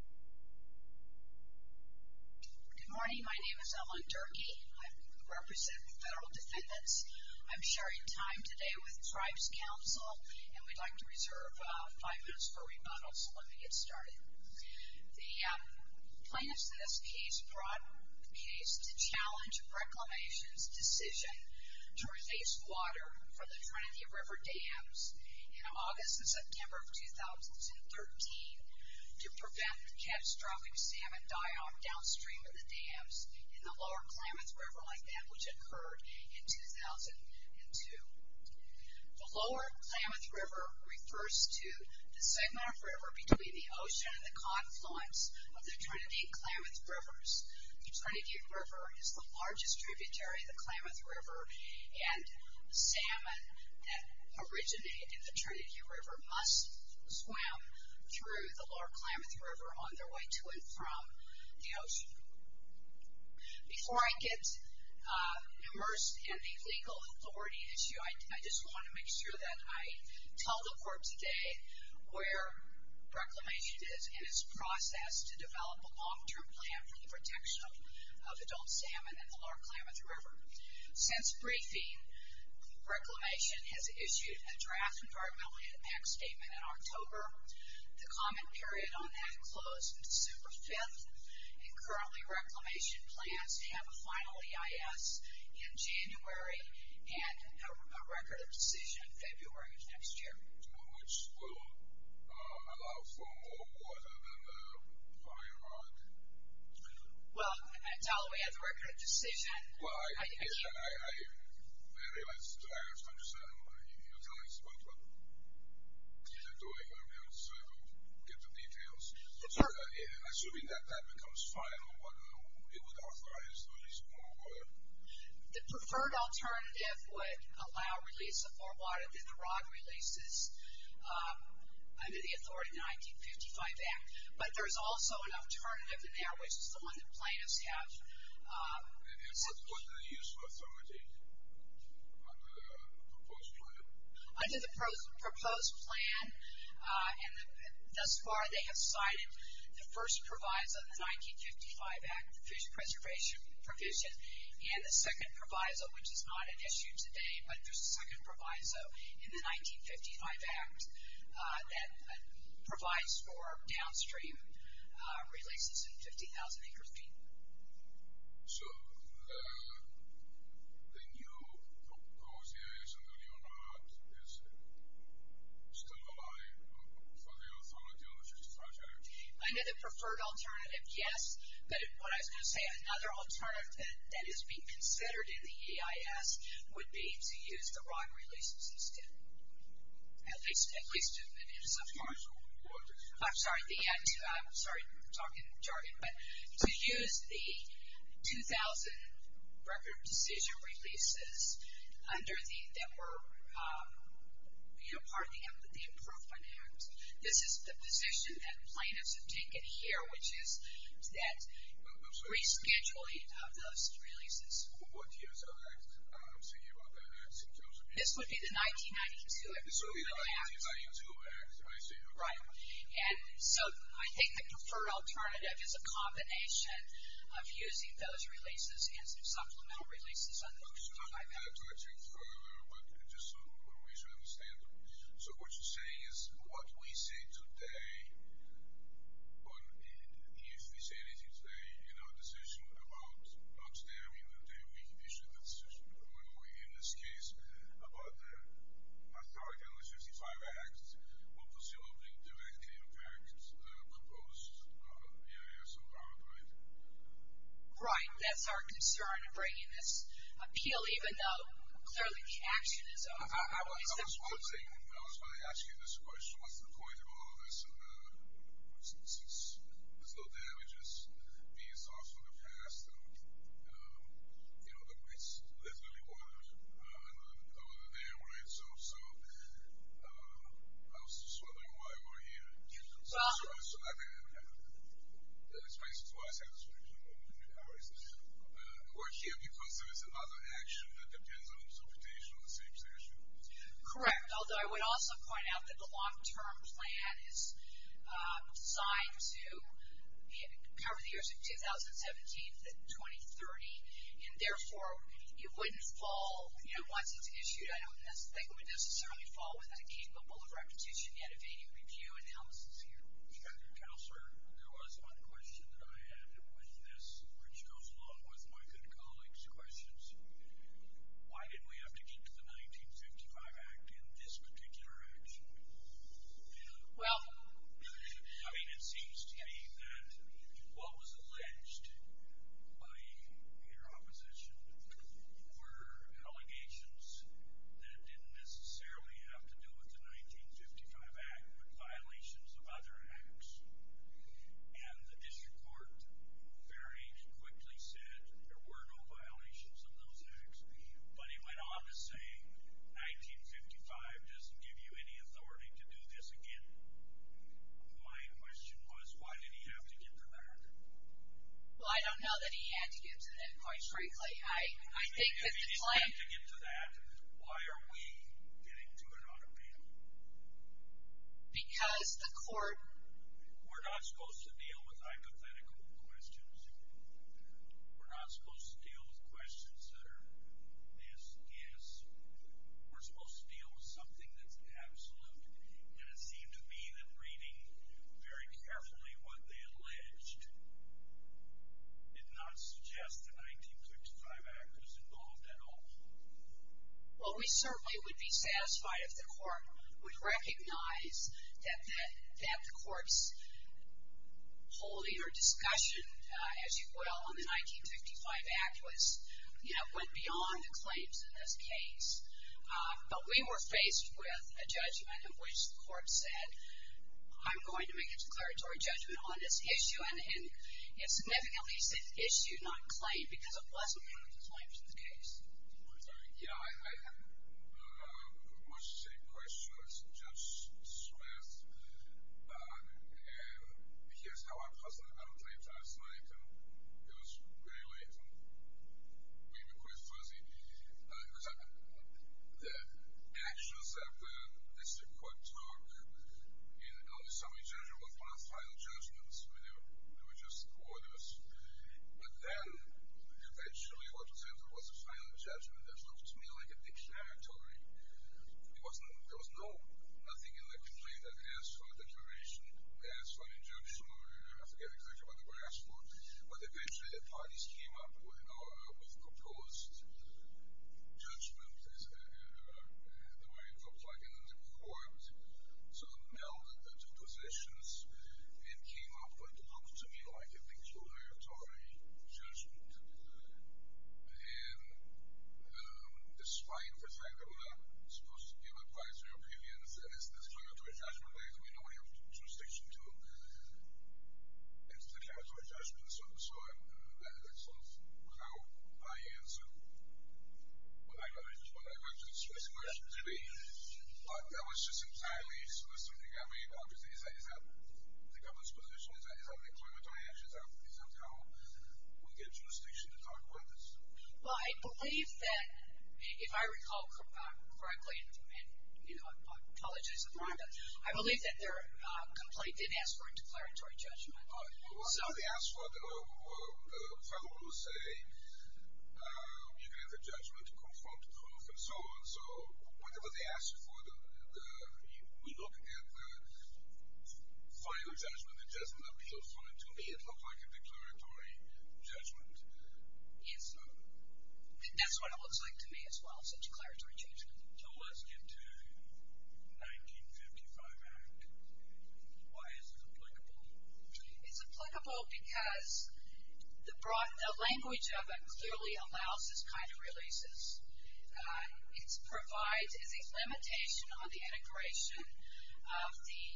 Good morning, my name is Evelyn Durkee. I represent the Federal Defendants. I'm sharing time today with Tribes Council, and we'd like to reserve five minutes for rebuttal. So let me get started. The plaintiffs in this case brought the case to challenge Reclamation's decision to replace water for the Trinity River Dams in August and September of 2013 to prevent catastrophic salmon die-off downstream of the dams in the Lower Klamath River like that, which occurred in 2002. The Lower Klamath River refers to the segment of river between the ocean and the confluence of the Trinity and Klamath Rivers. The Trinity River is the largest tributary of the Klamath River, and salmon that originate in the Trinity River must swim through the Lower Klamath River on their way to and from the ocean. Before I get immersed in the legal authority issue, I just want to make sure that I tell the court today where Reclamation is and its process to develop a long-term plan for the protection of adult salmon in the Lower Klamath River. Since briefing, Reclamation has issued a draft environmental impact statement in October. The comment period on that closed December 5th, and currently Reclamation plans to have a final EIS in January and a record of decision in February of next year. Which will allow for more water than the firemark? Well, I tell them we have the record of decision. Well, I realize that I understand what you're telling us, but what you're doing, I realize, so I don't get the details. Assuming that that becomes final, what it would authorize to release more water? The preferred alternative would allow release of more water than the ROD releases under the authority of the 1955 Act. But there's also an alternative in there, which is the one that plaintiffs have. And what's the use of authority under the proposed plan? Under the proposed plan, and thus far they have cited the first proviso, the 1955 Act, the fish preservation provision, and the second proviso, which is not at issue today, but there's a second proviso in the 1955 Act that provides for downstream releases in 50,000 acre feet. So, the new proposed EIS under the new ROD is still alive for the authority under this project? Under the preferred alternative, yes, but what I was going to say, another alternative that is being considered in the EIS would be to use the ROD releases instead. At least, at least in some part. I'm sorry, the Act, I'm sorry, I'm talking in jargon, but to use the 2,000 record of decision releases under the, that were, you know, part of the improved finance. This is the position that plaintiffs have taken here, which is that rescheduling of those releases. What year is that Act? I'm thinking about that Act. This would be the 1992 Act. This would be the 1992 Act, I see. Right. And so, I think the preferred alternative is a combination of using those releases and some supplemental releases under the 25 Act. I'm not going to go into that project further, but just some ways to understand it. So, what you're saying is, what we say today, or if we say anything today in our decision about, not today, I mean the day we issued that decision, or in this case about the authority under the 55 Act, will presumably directly impact the proposed EIS or ROD, right? Right. That's our concern in bringing this appeal, even though clearly the action is on our side. I was going to say, I was going to ask you this question. What's the point of all of this? There's no damages. B is also the past. You know, it's literally water under the dam, right? So, I was just wondering why we're here. Well. So, I mean, it's basically what I said. We're here because there is another action that depends on the substantiation of the same statute. Correct. Although, I would also point out that the long-term plan is designed to cover the years of 2017 to 2030, and therefore it wouldn't fall, you know, once it's issued, I don't think it would necessarily fall within the capable of repetition yet of any review analysis here. Counselor, there was one question that I had with this, which goes along with my good colleague's questions. Why did we have to get to the 1955 Act in this particular action? Well. I mean, it seems to me that what was alleged by your opposition were allegations that didn't necessarily have to do with the 1955 Act, but violations of other acts. And the district court very quickly said there were no violations of those acts, but it went on to say 1955 doesn't give you any authority to do this again. My question was, why did he have to get to that? Well, I don't know that he had to get to that, quite frankly. I think that the plan. If he didn't have to get to that, why are we getting to it on appeal? Because the court. We're not supposed to deal with hypothetical questions. We're not supposed to deal with questions that are yes, yes. We're supposed to deal with something that's absolute. And it seemed to me that reading very carefully what they alleged did not suggest the 1955 Act was involved at all. Well, we certainly would be satisfied if the court would recognize that the court's holding or discussion, as you will, on the 1955 Act, went beyond the claims in this case. But we were faced with a judgment in which the court said, I'm going to make a declaratory judgment on this issue, and it significantly said issue, not claim, Yeah, I have much the same question as Judge Smith. And here's how I presented my claim last night. And it was very late, and we were quite fuzzy. It was the actions of the district court talk on the summary judgment was one of the final judgments. They were just orders. But then eventually what was entered was the final judgment that looked to me like a declaratory. There was nothing in the complaint that asked for a declaration, asked for an injunction, or I forget exactly what it was asked for. But eventually the parties came up with proposed judgments, the way it looked like, and then the court sort of melded the two positions and came up with what looked to me like a declaratory judgment. And despite the fact that we're not supposed to give advisory opinions, and it's declaratory judgment, that is, we don't have jurisdiction to enter declaratory judgment. So that's sort of without my answer. But I just want to address this question today. That was just entirely soliciting. I mean, obviously, is that the government's position? Is that a declaratory action? Is that how we get jurisdiction to talk about this? Well, I believe that if I recall correctly, and I apologize in front of them, I believe that their complaint did ask for a declaratory judgment. Well, whatever they asked for, the federal rules say you can enter judgment, confront proof, and so on. So whatever they asked for, we look at final judgment. It doesn't appeal to me. It looks like a declaratory judgment. Yes. That's what it looks like to me as well, so declaratory judgment. So let's get to the 1955 Act. Why is it applicable? It's applicable because the language of it clearly allows this kind of releases. It provides as a limitation on the integration of the,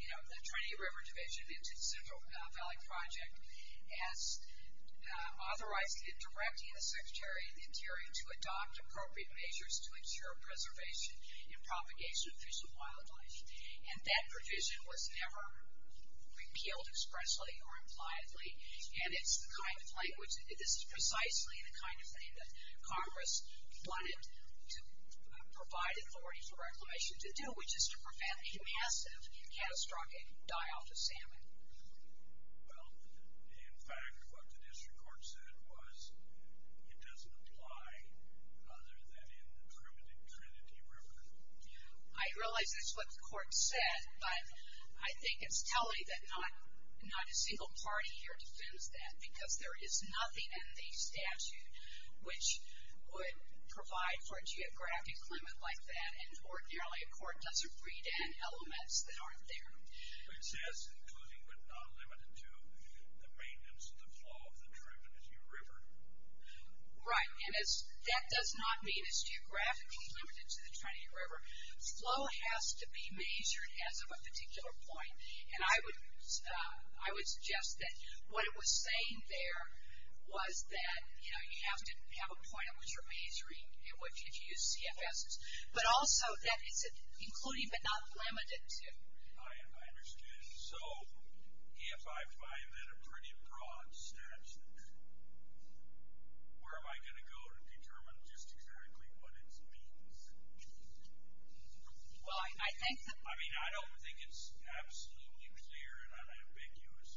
you know, the Trinity River Division into the Central Valley Project as authorizing and directing the Secretary of the Interior to adopt appropriate measures to ensure preservation and propagation of fish and wildlife. And that provision was never repealed expressly or impliedly, and it's the kind of language, this is precisely the kind of thing that Congress wanted to provide authority for reclamation to do, which is to prevent a massive catastrophic die-off of salmon. Well, in fact, what the district court said was it doesn't apply other than in the primitive Trinity River. I realize that's what the court said, but I think it's telling that not a single party here defends that, because there is nothing in the statute which would provide for a geographic limit like that, and ordinarily a court doesn't read in elements that aren't there. It says, including but not limited to, the maintenance of the flow of the Trinity River. Right, and that does not mean it's geographically limited to the Trinity River. Flow has to be measured as of a particular point, and I would suggest that what it was saying there was that, you know, you have to have a point on which you're measuring and which CFSs, but also that it's including but not limited to. I understand. So if I find that a pretty broad statute, where am I going to go to determine just exactly what it means? Well, I think that... I mean, I don't think it's absolutely clear and unambiguous,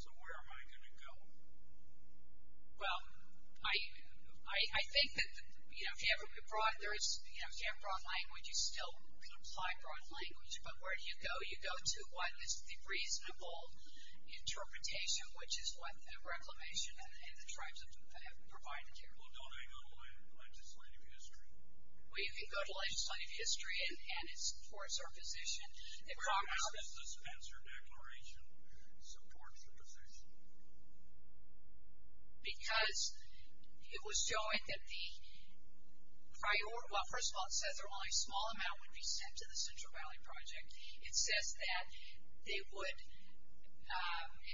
so where am I going to go? Well, I think that, you know, if you have broad language, you still can apply broad language, but where do you go? You go to what is the reasonable interpretation, which is what the Reclamation and the tribes have provided here. Well, don't hang on to legislative history. Well, you can go to legislative history, and it supports our position. How does the Spencer Declaration support your position? Because it was showing that the priority or, well, first of all, it says that only a small amount would be sent to the Central Valley Project. It says that they would.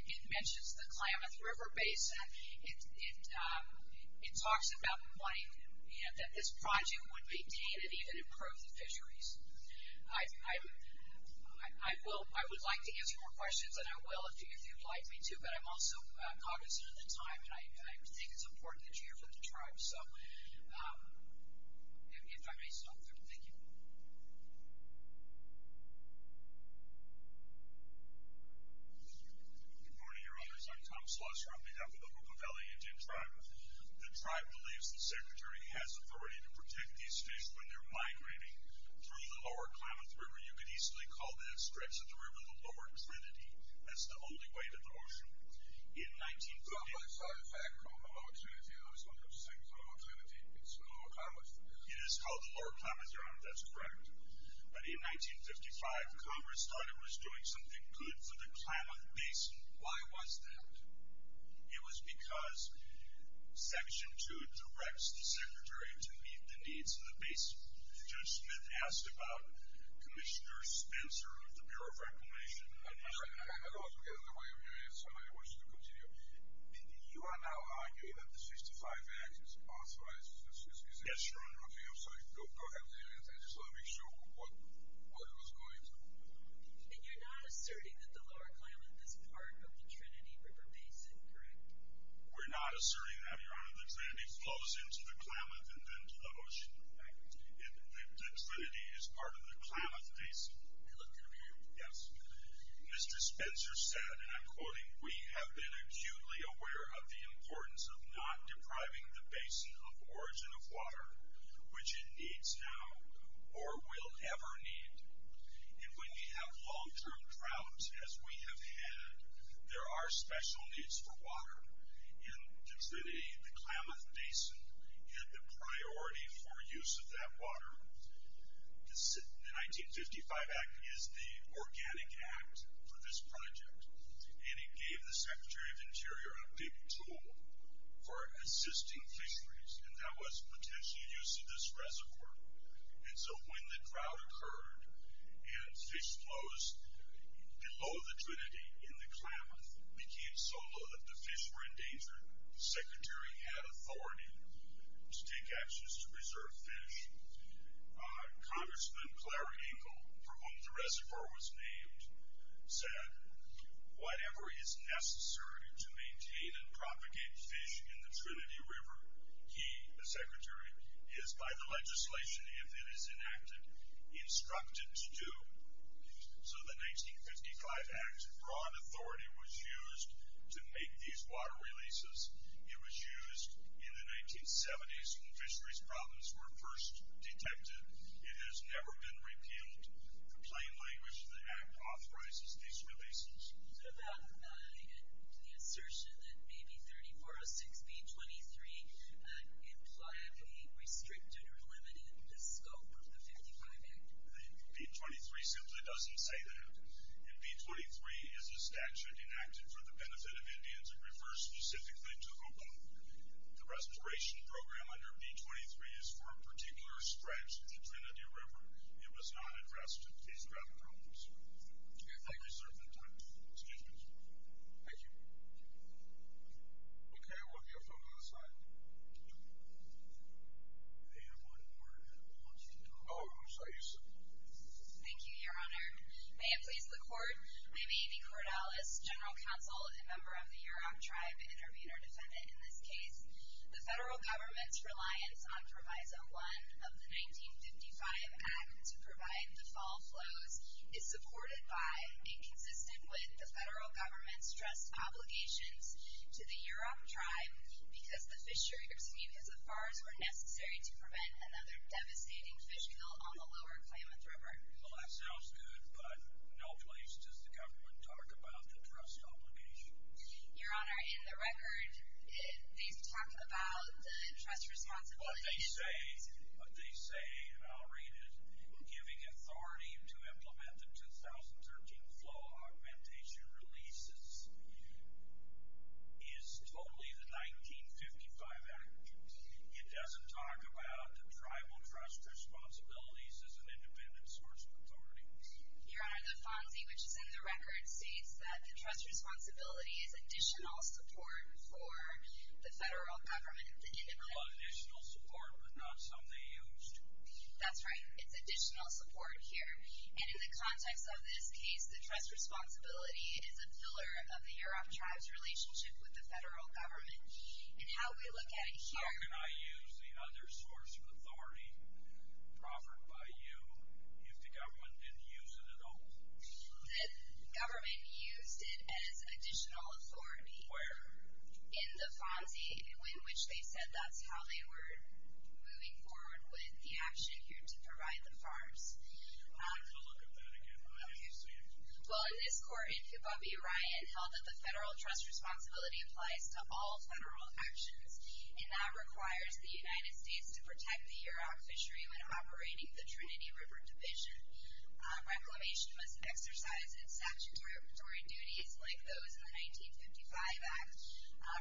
It mentions the Klamath River Basin. It talks about money and that this project would be gained and even improve the fisheries. I would like to answer more questions, and I will if you'd like me to, but I'm also cognizant of the time, and I think it's important that you hear from the tribes. So if I may stop there, thank you. Good morning, your honors. I'm Tom Slosser on behalf of the Hookah Valley Indian Tribe. The tribe believes the secretary has authority to protect these fish when they're migrating through the lower Klamath River. You could easily call that stretch of the river the lower trinity. That's the only way to the ocean. In 1948, it is called the lower Klamath River. That's correct. But in 1955, Congress thought it was doing something good for the Klamath Basin. Why was that? It was because Section 2 directs the secretary to meet the needs of the basin. Judge Smith asked about Commissioner Spencer of the Bureau of Reclamation. I'd also get in the way of you if somebody wants to continue. You are now arguing that the 65 Act is authorized. Yes, your honor. I just want to make sure what it was going to. And you're not asserting that the lower Klamath is part of the Trinity River Basin, correct? We're not asserting that, your honor. The Trinity flows into the Klamath and then to the ocean. The Trinity is part of the Klamath Basin. I looked it up here. Yes. Mr. Spencer said, and I'm quoting, We have been acutely aware of the importance of not depriving the basin of origin of water, which it needs now or will ever need. And when we have long-term droughts, as we have had, there are special needs for water. And the Trinity, the Klamath Basin, had the priority for use of that water. The 1955 Act is the organic act for this project. And it gave the Secretary of Interior a big tool for assisting fisheries, and that was potential use of this reservoir. And so when the drought occurred and fish flows below the Trinity in the Klamath became so low that the fish were endangered, the Secretary had authority to take actions to preserve fish. Congressman Clare Engel, for whom the reservoir was named, said, Whatever is necessary to maintain and propagate fish in the Trinity River, he, the Secretary, is by the legislation, if it is enacted, instructed to do. So the 1955 Act brought authority, was used to make these water releases. It was used in the 1970s when fisheries problems were first detected. It has never been repealed. The plain language of the Act authorizes these releases. So that's the assertion that maybe 3406B23 implied a restricted or limited scope of the 1955 Act? The B23 simply doesn't say that. And B23 is a statute enacted for the benefit of Indians. It refers specifically to Opah. The restoration program under B23 is for a particular stretch of the Trinity River. It was not addressed in case of drought problems. Thank you for your time. Thank you. Okay, we'll get a photo on the side. May I have one more? Oh, who's that? You, sir. Thank you, Your Honor. May it please the Court, I may be Cordelis, General Counsel and member of the Yurok Tribe, intervener defendant in this case. The federal government's reliance on Proviso 1 of the 1955 Act to provide the fall flows is supported by and consistent with the federal government's trust obligations to the Yurok Tribe because the fisheries, excuse me, because the fars were necessary to prevent another devastating fish kill on the lower Klamath River. Well, that sounds good, but no place does the government talk about the trust obligations. Your Honor, in the record, they've talked about the trust responsibilities. What they say, and I'll read it, giving authority to implement the 2013 flow augmentation releases is totally the 1955 Act. It doesn't talk about the tribal trust responsibilities as an independent source of authority. Your Honor, the FONSI, which is in the record, states that the trust responsibility is additional support for the federal government to implement. Well, additional support, but not something used. That's right. It's additional support here. And in the context of this case, the trust responsibility is a pillar of the Yurok Tribe's relationship with the federal government. And how we look at it here. How can I use the other source of authority offered by you if the government didn't use it at all? The government used it as additional authority. Where? In the FONSI, in which they said that's how they were moving forward with the action here to provide the farms. Let me look at that again. I didn't see it. Well, in this court in Kibabe, Ryan held that the federal trust responsibility applies to all federal actions, and that requires the United States to protect the Yurok fishery when operating the Trinity River Division. Reclamation must exercise its statutory duties, like those in the 1955 Act,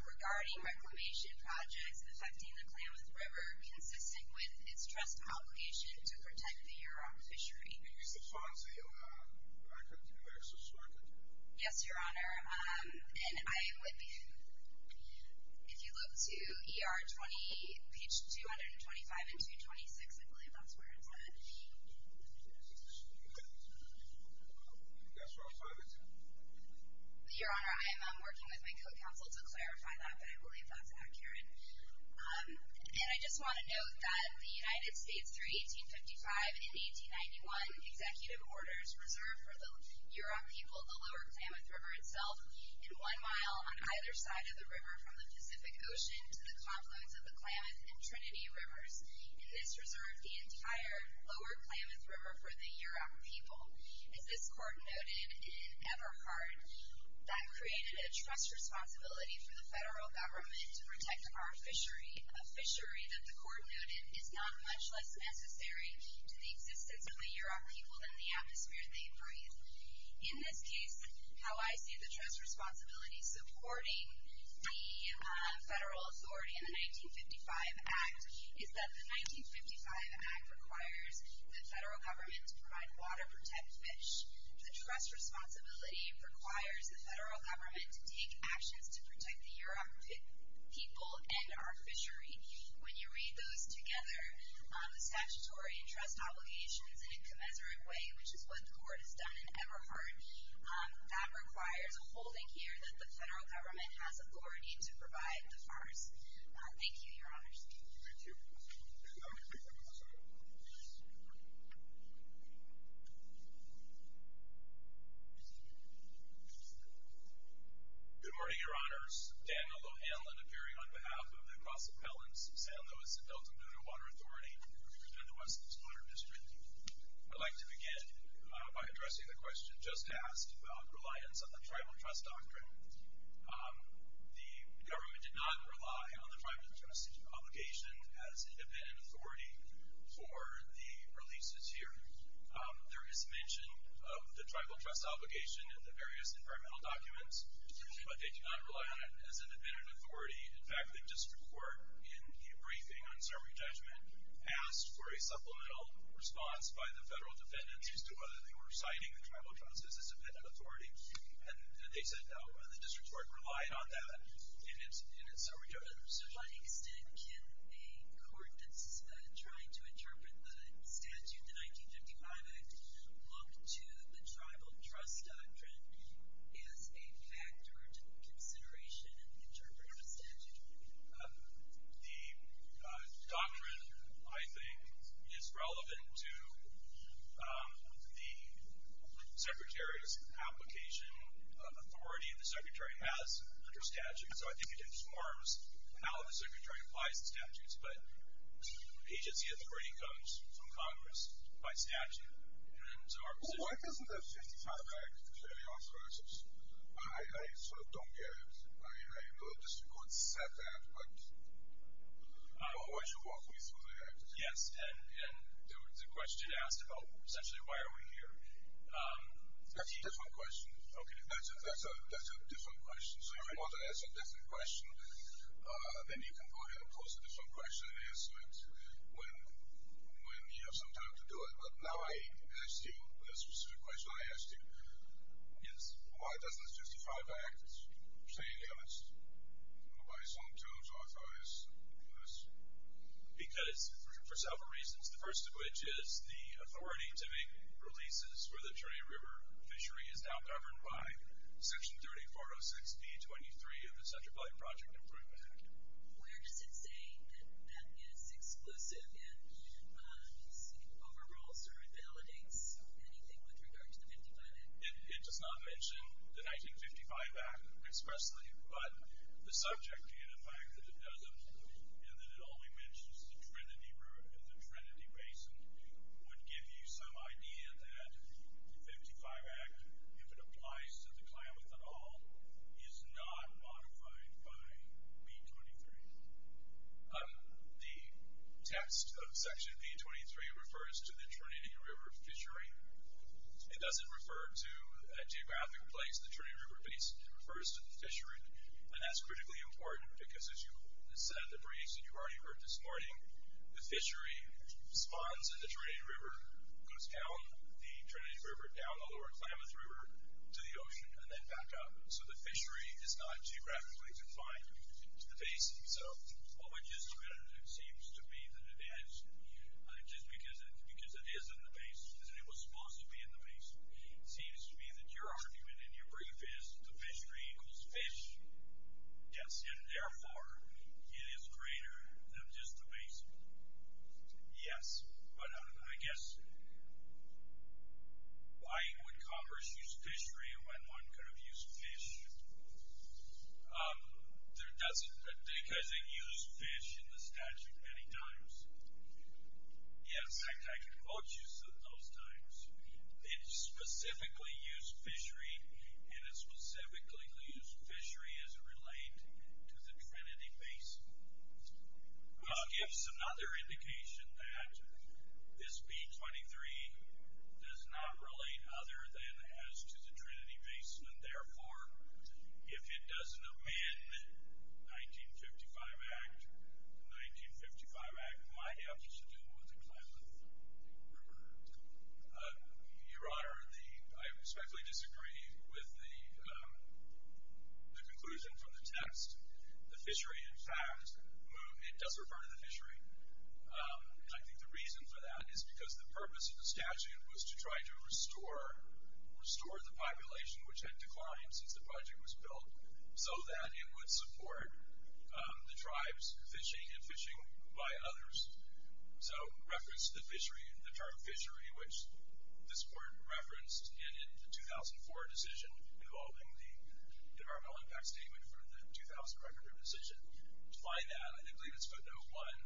regarding reclamation projects affecting the Klamath River, consistent with its trust obligation to protect the Yurok fishery. If you use the FONSI, I continue to subscribe to you. Yes, Your Honor. And I would be, if you look to ER 20, page 225 and 226, I believe that's where it's at. That's where I'm signing to. Your Honor, I am working with my co-counsel to clarify that, but I believe that's accurate. And I just want to note that the United States, through 1855 and 1891, executive orders reserved for the Yurok people the Lower Klamath River itself, and one mile on either side of the river from the Pacific Ocean to the confluence of the Klamath and Trinity Rivers. And this reserved the entire Lower Klamath River for the Yurok people. As this court noted in Eberhard, that created a trust responsibility for the federal government to protect our fishery, a fishery that the court noted is not much less necessary to the existence of the Yurok people than the atmosphere they breathe. In this case, how I see the trust responsibility supporting the federal authority in the 1955 Act is that the 1955 Act requires the federal government to provide water, protect fish. The trust responsibility requires the federal government to take actions to protect the Yurok people and our fishery. When you read those together, the statutory and trust obligations in a commensurate way, which is what the court has done in Eberhard, that requires a holding here that the federal government has authority to provide the farce. Thank you, Your Honors. Thank you. Good morning, Your Honors. Daniel O'Hanlon appearing on behalf of the Cross Appellants, San Luis and Delta Muna Water Authority and the West Coast Water District. I'd like to begin by addressing the question just asked about reliance on the tribal trust doctrine. The government did not rely on the tribal trust obligation as independent authority for the releases here. There is mention of the tribal trust obligation in the various environmental documents, but they do not rely on it as independent authority. In fact, the district court in the briefing on summary judgment asked for a supplemental response by the federal defendants as to whether they were citing the tribal trust as independent authority, and they said no. The district court relied on that in its summary judgment. To what extent can a court that's trying to interpret the statute, the 1955 Act, look to the tribal trust doctrine as a factor of consideration in the interpretation of the statute? The doctrine, I think, is relevant to the Secretary's application of authority, and the Secretary has under statute. So I think it informs how the Secretary applies the statutes, but the agency of the briefing comes from Congress by statute. Why doesn't the 1955 Act clearly authorize this? I sort of don't get it. I know the district court said that, but why should walk me through the Act? Yes, and the question asked about essentially why are we here. That's a different question. Okay. That's a different question. So if you want to ask a different question, then you can go ahead and pose a different question and answer it when you have some time to do it. But now I asked you a specific question I asked you. Yes. Why doesn't the 1955 Act say any of its own terms authorize this? Because for several reasons, the first of which is the authority to make releases where the Trinity River fishery is now governed by Section 3406B23 of the Central Valley Project Improvement Act. Where does it say that that is exclusive and just overrules or invalidates anything with regard to the 1955 Act? It does not mention the 1955 Act expressly, but the subject and the fact that it doesn't and that it only mentions the Trinity River and the Trinity Basin would give you some idea that the 1955 Act, if it applies to the Klamath at all, is not modified by B23. The text of Section B23 refers to the Trinity River fishery. It doesn't refer to a geographic place, the Trinity River Basin. It refers to the fishery, and that's critically important because as you said in the briefs that you already heard this morning, the fishery spawns in the Trinity River, goes down the Trinity River, down the lower Klamath River to the ocean, and then back up. So the fishery is not geographically defined to the basin. So what we just admitted seems to be that it is, just because it is in the basin, because it was supposed to be in the basin, seems to be that your argument in your brief is the fishery equals fish. Yes. And therefore, it is greater than just the basin. Yes. But I guess why would Congress use fishery when one could have used fish? Because it used fish in the statute many times. Yes. In fact, I can quote you some of those times. It specifically used fishery, and it specifically used fishery as it related to the Trinity Basin. Which gives another indication that this B-23 does not relate other than as to the Trinity Basin, and therefore if it doesn't amend the 1955 Act, the 1955 Act might have to do with the Klamath River. Your Honor, I respectfully disagree with the conclusion from the text. The fishery, in fact, does refer to the fishery. And I think the reason for that is because the purpose of the statute was to try to restore the population, which had declined since the project was built, so that it would support the tribes fishing and fishing by others. So reference to the term fishery, which this Court referenced in the 2004 decision involving the Environmental Impact Statement for the 2005 River Decision, defined that, and I believe it's footnote one,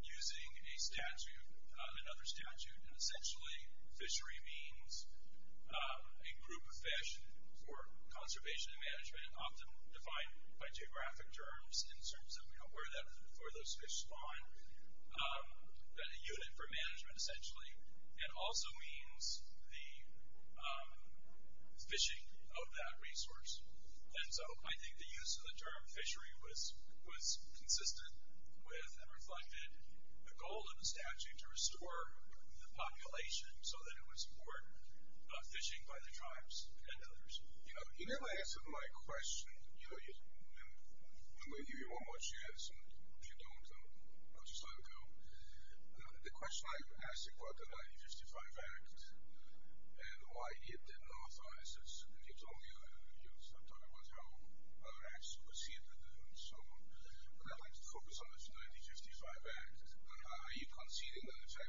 using a statute, another statute, and essentially fishery means a group of fish for conservation and management, often defined by geographic terms in terms of where those fish spawn, then a unit for management essentially, and also means the fishing of that resource. And so I think the use of the term fishery was consistent with and reflected the goal of the statute to restore the population so that it would support fishing by the tribes and others. You never answered my question. I'm going to give you one more chance, and if you don't, I'll just let it go. The question I'm asking about the 1955 Act and why it didn't authorize this, and you talked about how other acts proceeded and so on, but I'd like to focus on the 1955 Act. Are you conceding that the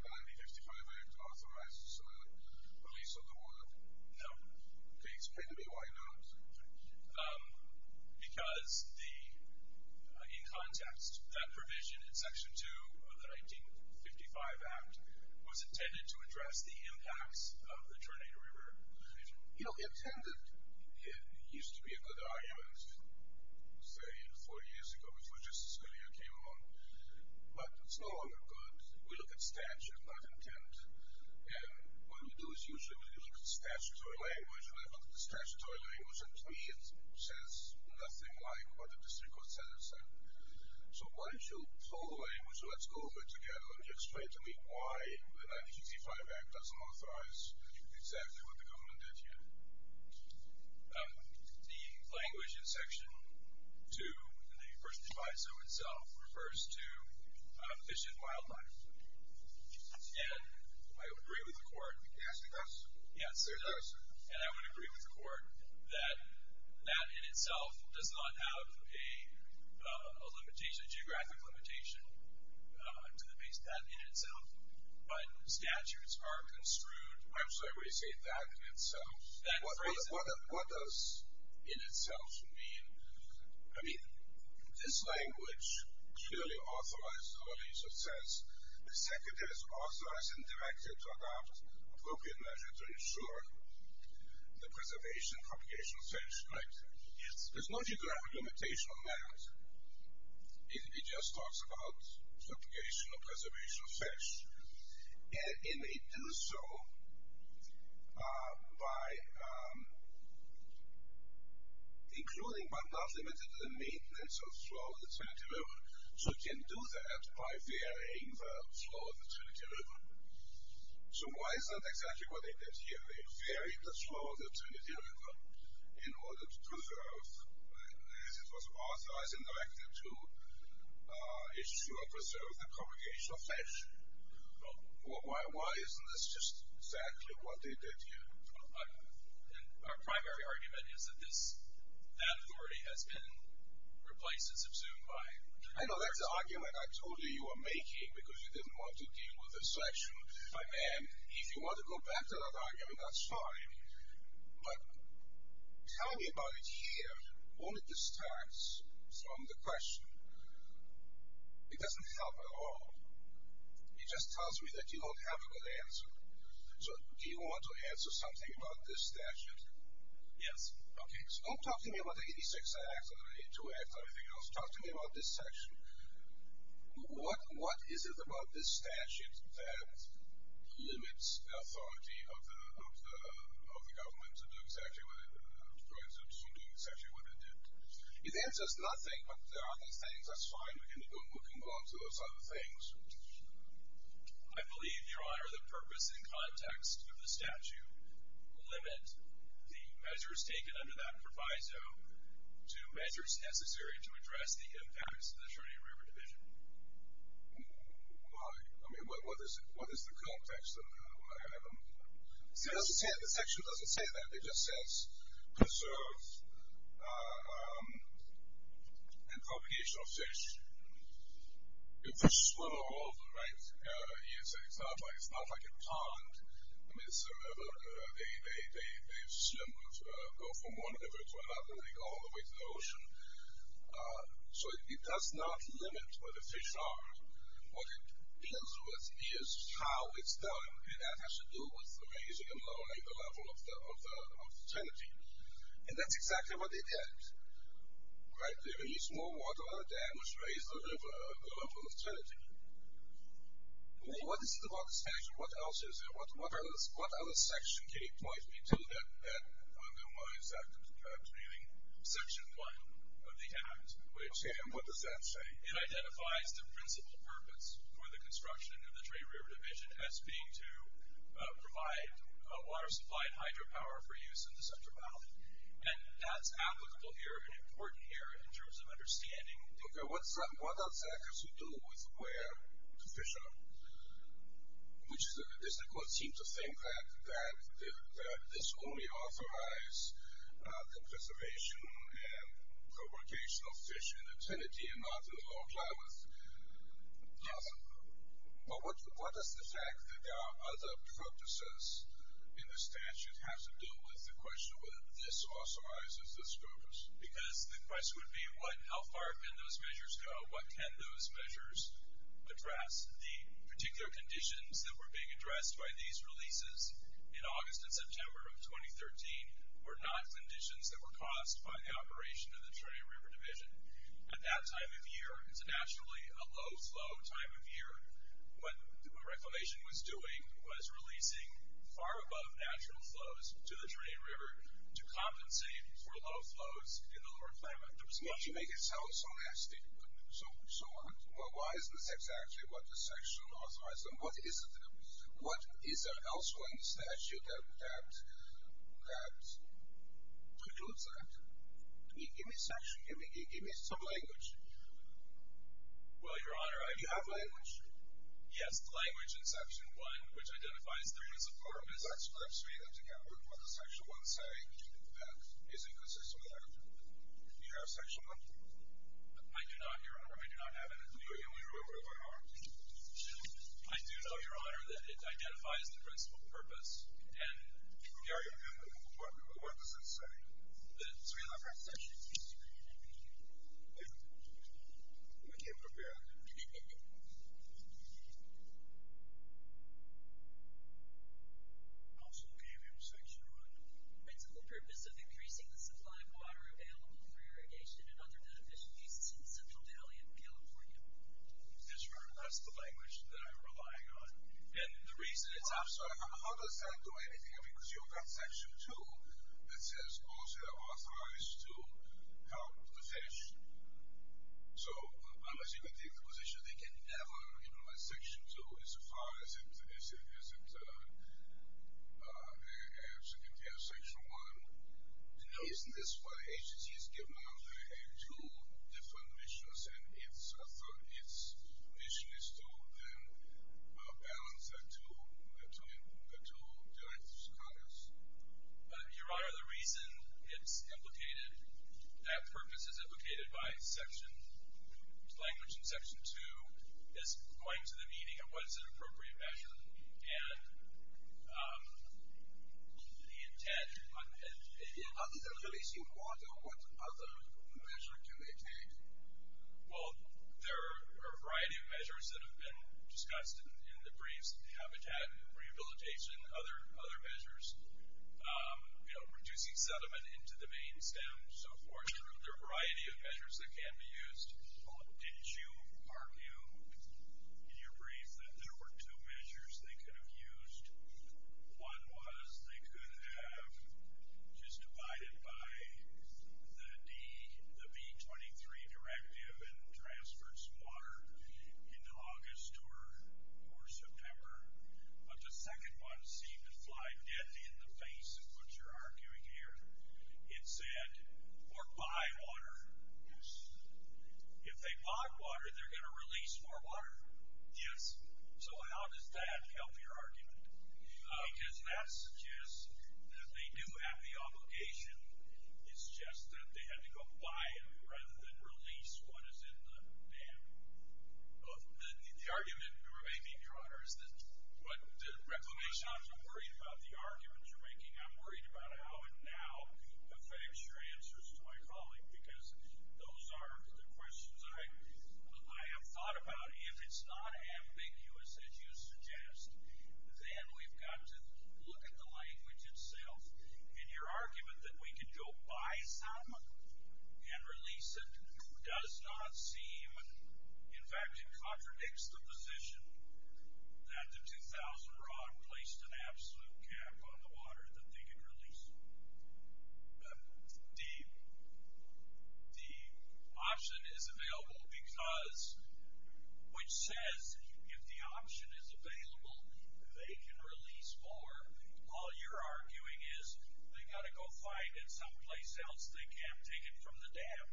1955 Act authorizes the release of the water? No. Okay, explain to me why not. Because in context, that provision in Section 2 of the 1955 Act was intended to address the impacts of the Tornado River decision. You know, intended used to be a good argument, say, four years ago before Justice Scalia came along, but it's no longer good. We look at statute, not intent, and what we do is usually we look at statutory language, and I look at the statutory language, and to me it says nothing like what the district court said or said. So why don't you pull the language and let's go over it together, and just explain to me why the 1965 Act doesn't authorize exactly what the government did here. The language in Section 2 in the First Divisio itself refers to fish and wildlife, and I would agree with the court. Yes, it does. Yes. It does. And I would agree with the court that that in itself does not have a geographic limitation to the base. That in itself, when statutes are construed, I'm sorry, when you say that in itself, what does in itself mean? I mean, this language clearly authorizes, or at least it says the Secretary is authorized and directed to adopt appropriate measures to ensure the preservation of propagation of fish. Yes. There's no geographic limitation on that. It just talks about propagation of preservation of fish, and it may do so by including, but not limited to the maintenance of flow of the Trinity River. So it can do that by varying the flow of the Trinity River. So why is that exactly what they did here? They varied the flow of the Trinity River in order to preserve, it was authorized and directed to ensure and preserve the propagation of fish. Why isn't this just exactly what they did here? Our primary argument is that this, that authority has been replaced and subsumed by. I know that's the argument I told you you were making, because you didn't want to deal with this section. And if you want to go back to that argument, I'm sorry, but tell me about it here. Won't it distract from the question? It doesn't help at all. It just tells me that you don't have a good answer. So do you want to answer something about this statute? Yes. Okay. So don't talk to me about the 86 Act or the 82 Act or anything else. Talk to me about this section. What is it about this statute that limits the authority of the government to do exactly what it did? It answers nothing, but there are other things. That's fine. We can move on to those other things. I believe, Your Honor, the purpose and context of the statute limit the measures taken under that proviso to measures necessary to address the authority of river division. Why? I mean, what is the context? The section doesn't say that. It just says preserve and propagation of fish. Fish swim all over, right? It's not like a pond. They swim and go from one river to another, and they go all the way to the ocean. So it does not limit where the fish are. What it deals with is how it's done, and that has to do with raising and lowering the level of the trinity. And that's exactly what they did, right? They released more water than was raised over the level of trinity. What is it about this statute? What else is there? What other section can you point me to that undermines that, including section one of the act? Okay, and what does that say? It identifies the principal purpose for the construction of the Tray River Division as being to provide water supply and hydropower for use in the Central Valley. And that's applicable here and important here in terms of understanding. Okay, what does that have to do with where the fish are? Does the court seem to think that this only authorizes the preservation and propagation of fish in the trinity and not in the lower Klamath? Yes. But what does the fact that there are other purposes in the statute have to do with the question whether this authorizes this purpose? Because the question would be, how far can those measures go? What can those measures address? The particular conditions that were being addressed by these releases in August and September of 2013 were not conditions that were caused by the operation of the Tray River Division. At that time of year, it's actually a low-flow time of year. What Reclamation was doing was releasing far above natural flows to the Tray River to compensate for low flows in the lower Klamath. You make it sound so nasty. So what? Well, why isn't this exactly what the section authorizes? And what is there also in the statute that includes that? Give me some language. Well, Your Honor, I do have language. Yes, the language in Section 1, which identifies there is a purpose. Let's read them together. What does Section 1 say? Is it consistent with Section 1? Do you have Section 1? I do not, Your Honor. I do not have it. We removed it by heart. I do know, Your Honor, that it identifies the principal purpose. And what does it say? So we don't have Section 1. We came prepared. I also gave you Section 1. Principal purpose of increasing the supply of water available for irrigation and other beneficial uses in the Central Valley of California. That's right. That's the language that I'm relying on. And the reason it's not. How does that do anything? I mean, because you've got Section 2 that says, also authorized to help the fish. So I'm assuming the position is they can never utilize Section 2 as far as it compares to Section 1. No. Isn't this why the agency has given out two different missions, and its mission is to then balance the two directives. Your Honor, the reason it's implicated, that purpose is implicated by language in Section 2, is going to the meeting of what is an appropriate measure. And the intent. How does it release the water? What other measure do they take? Well, there are a variety of measures that have been discussed in the briefs, the habitat and rehabilitation, other measures. Reducing sediment into the main stem, so forth. There are a variety of measures that can be used. Did you argue in your brief that there were two measures they could have used? One was they could have just divided by the B23 directive and transferred some water in August or September. But the second one seemed to fly dead in the face of what you're arguing here. It said, or buy water. Yes. If they bought water, they're going to release more water. Yes. So how does that help your argument? Because that suggests that they do have the obligation. It's just that they had to go buy it rather than release what is in the dam. The argument may be broader. But I'm not worried about the arguments you're making. I'm worried about how it now affects your answers to my colleague. Because those are the questions I have thought about. If it's not ambiguous, as you suggest, then we've got to look at the language itself. And your argument that we could go buy some and release it does not seem. In fact, it contradicts the position that the 2000 Rock placed an absolute cap on the water that they could release. The option is available because, which says if the option is available, they can release more. All you're arguing is they've got to go find it someplace else. They can't take it from the dam.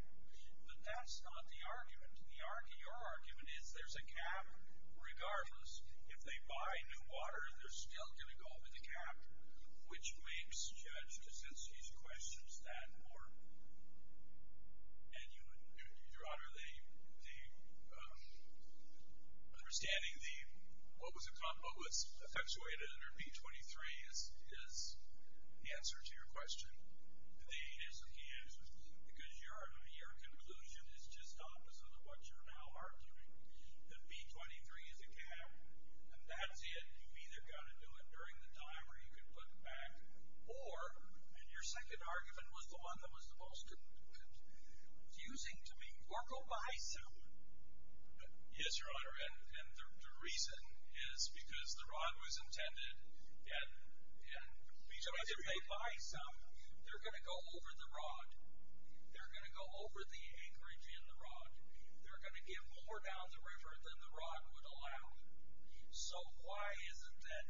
But that's not the argument. Your argument is there's a cap regardless. If they buy new water, they're still going to go with the cap, which makes Judge Kaczynski's questions that more. And, Your Honor, understanding what was effectuated under B-23 is the answer to your question. It is the answer. Because your conclusion is just opposite of what you're now arguing, that B-23 is a cap. And that's it. You've either got to do it during the time where you can put it back, or, and your second argument was the one that was the most confusing to me, or go buy some. Yes, Your Honor. And the reason is because the rod was intended. And if they buy some, they're going to go over the rod. They're going to go over the anchorage in the rod. They're going to give more down the river than the rod would allow. So why is it that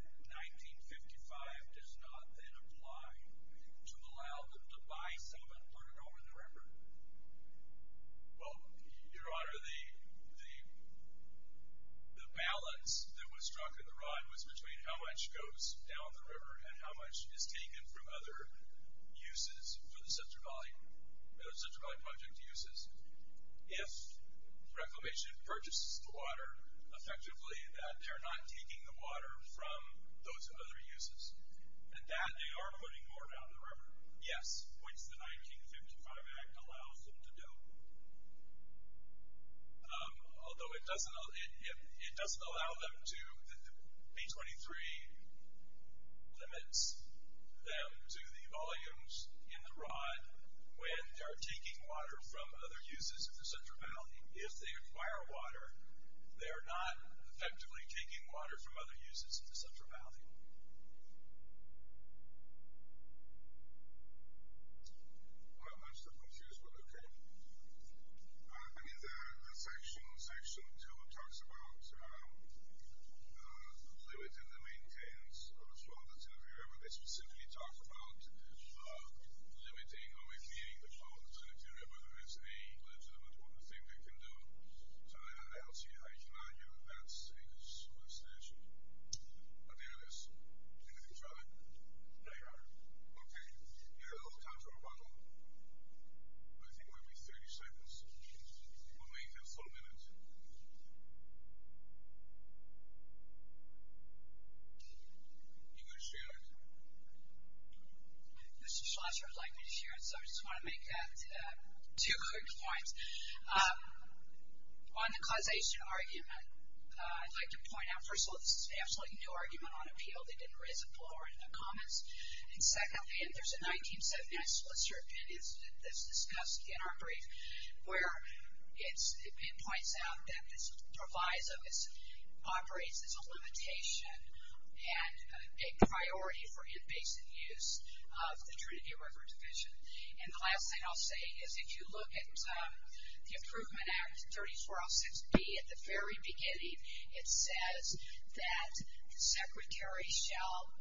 1955 does not then apply to allow them to buy some and put it over the river? Well, Your Honor, the balance that was struck in the rod was between how much goes down the river and how much is taken from other uses for the Central Valley Project uses. If Reclamation purchases the water, effectively, that they're not taking the water from those other uses, and that they are putting more down the river, yes, which the 1955 Act allows them to do. Although it doesn't allow them to, B-23 limits them to the volumes in the rod when they're taking water from other uses in the Central Valley. If they acquire water, they are not effectively taking water from other uses in the Central Valley. Well, I'm still confused, but okay. I mean, the Section 2 talks about limiting the maintenance of the flood water to the river. They specifically talk about limiting or eliminating the flood water to the river. That's a legitimate thing they can do. So I don't see how you can argue that's a superstition. But there it is. Anything to add? No, Your Honor. Okay. You have a little time for rebuttal. I think it might be 30 seconds. We'll make it a full minute. You want to share it? Mr. Schlosser would like me to share it, so I just want to make that two quick points. On the causation argument, I'd like to point out, first of all, this is an absolutely new argument on appeal. They didn't raise it before in the comments. And secondly, and there's a 1979 splitter opinion that's discussed in our brief where it points out that this provides or operates as a limitation and a priority for in-basin use of the Trinity River Division. And the last thing I'll say is if you look at the Improvement Act 3406B, at the very beginning it says that the Secretary shall,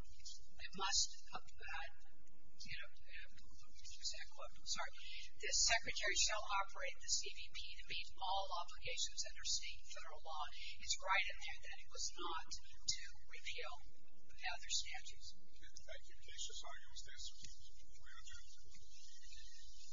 it must, you know, the Secretary shall operate the CBP to meet all obligations under state and federal law. It's right in there that it was not to repeal other statutes. Okay. Thank you. Cautious arguments. That's what we are doing.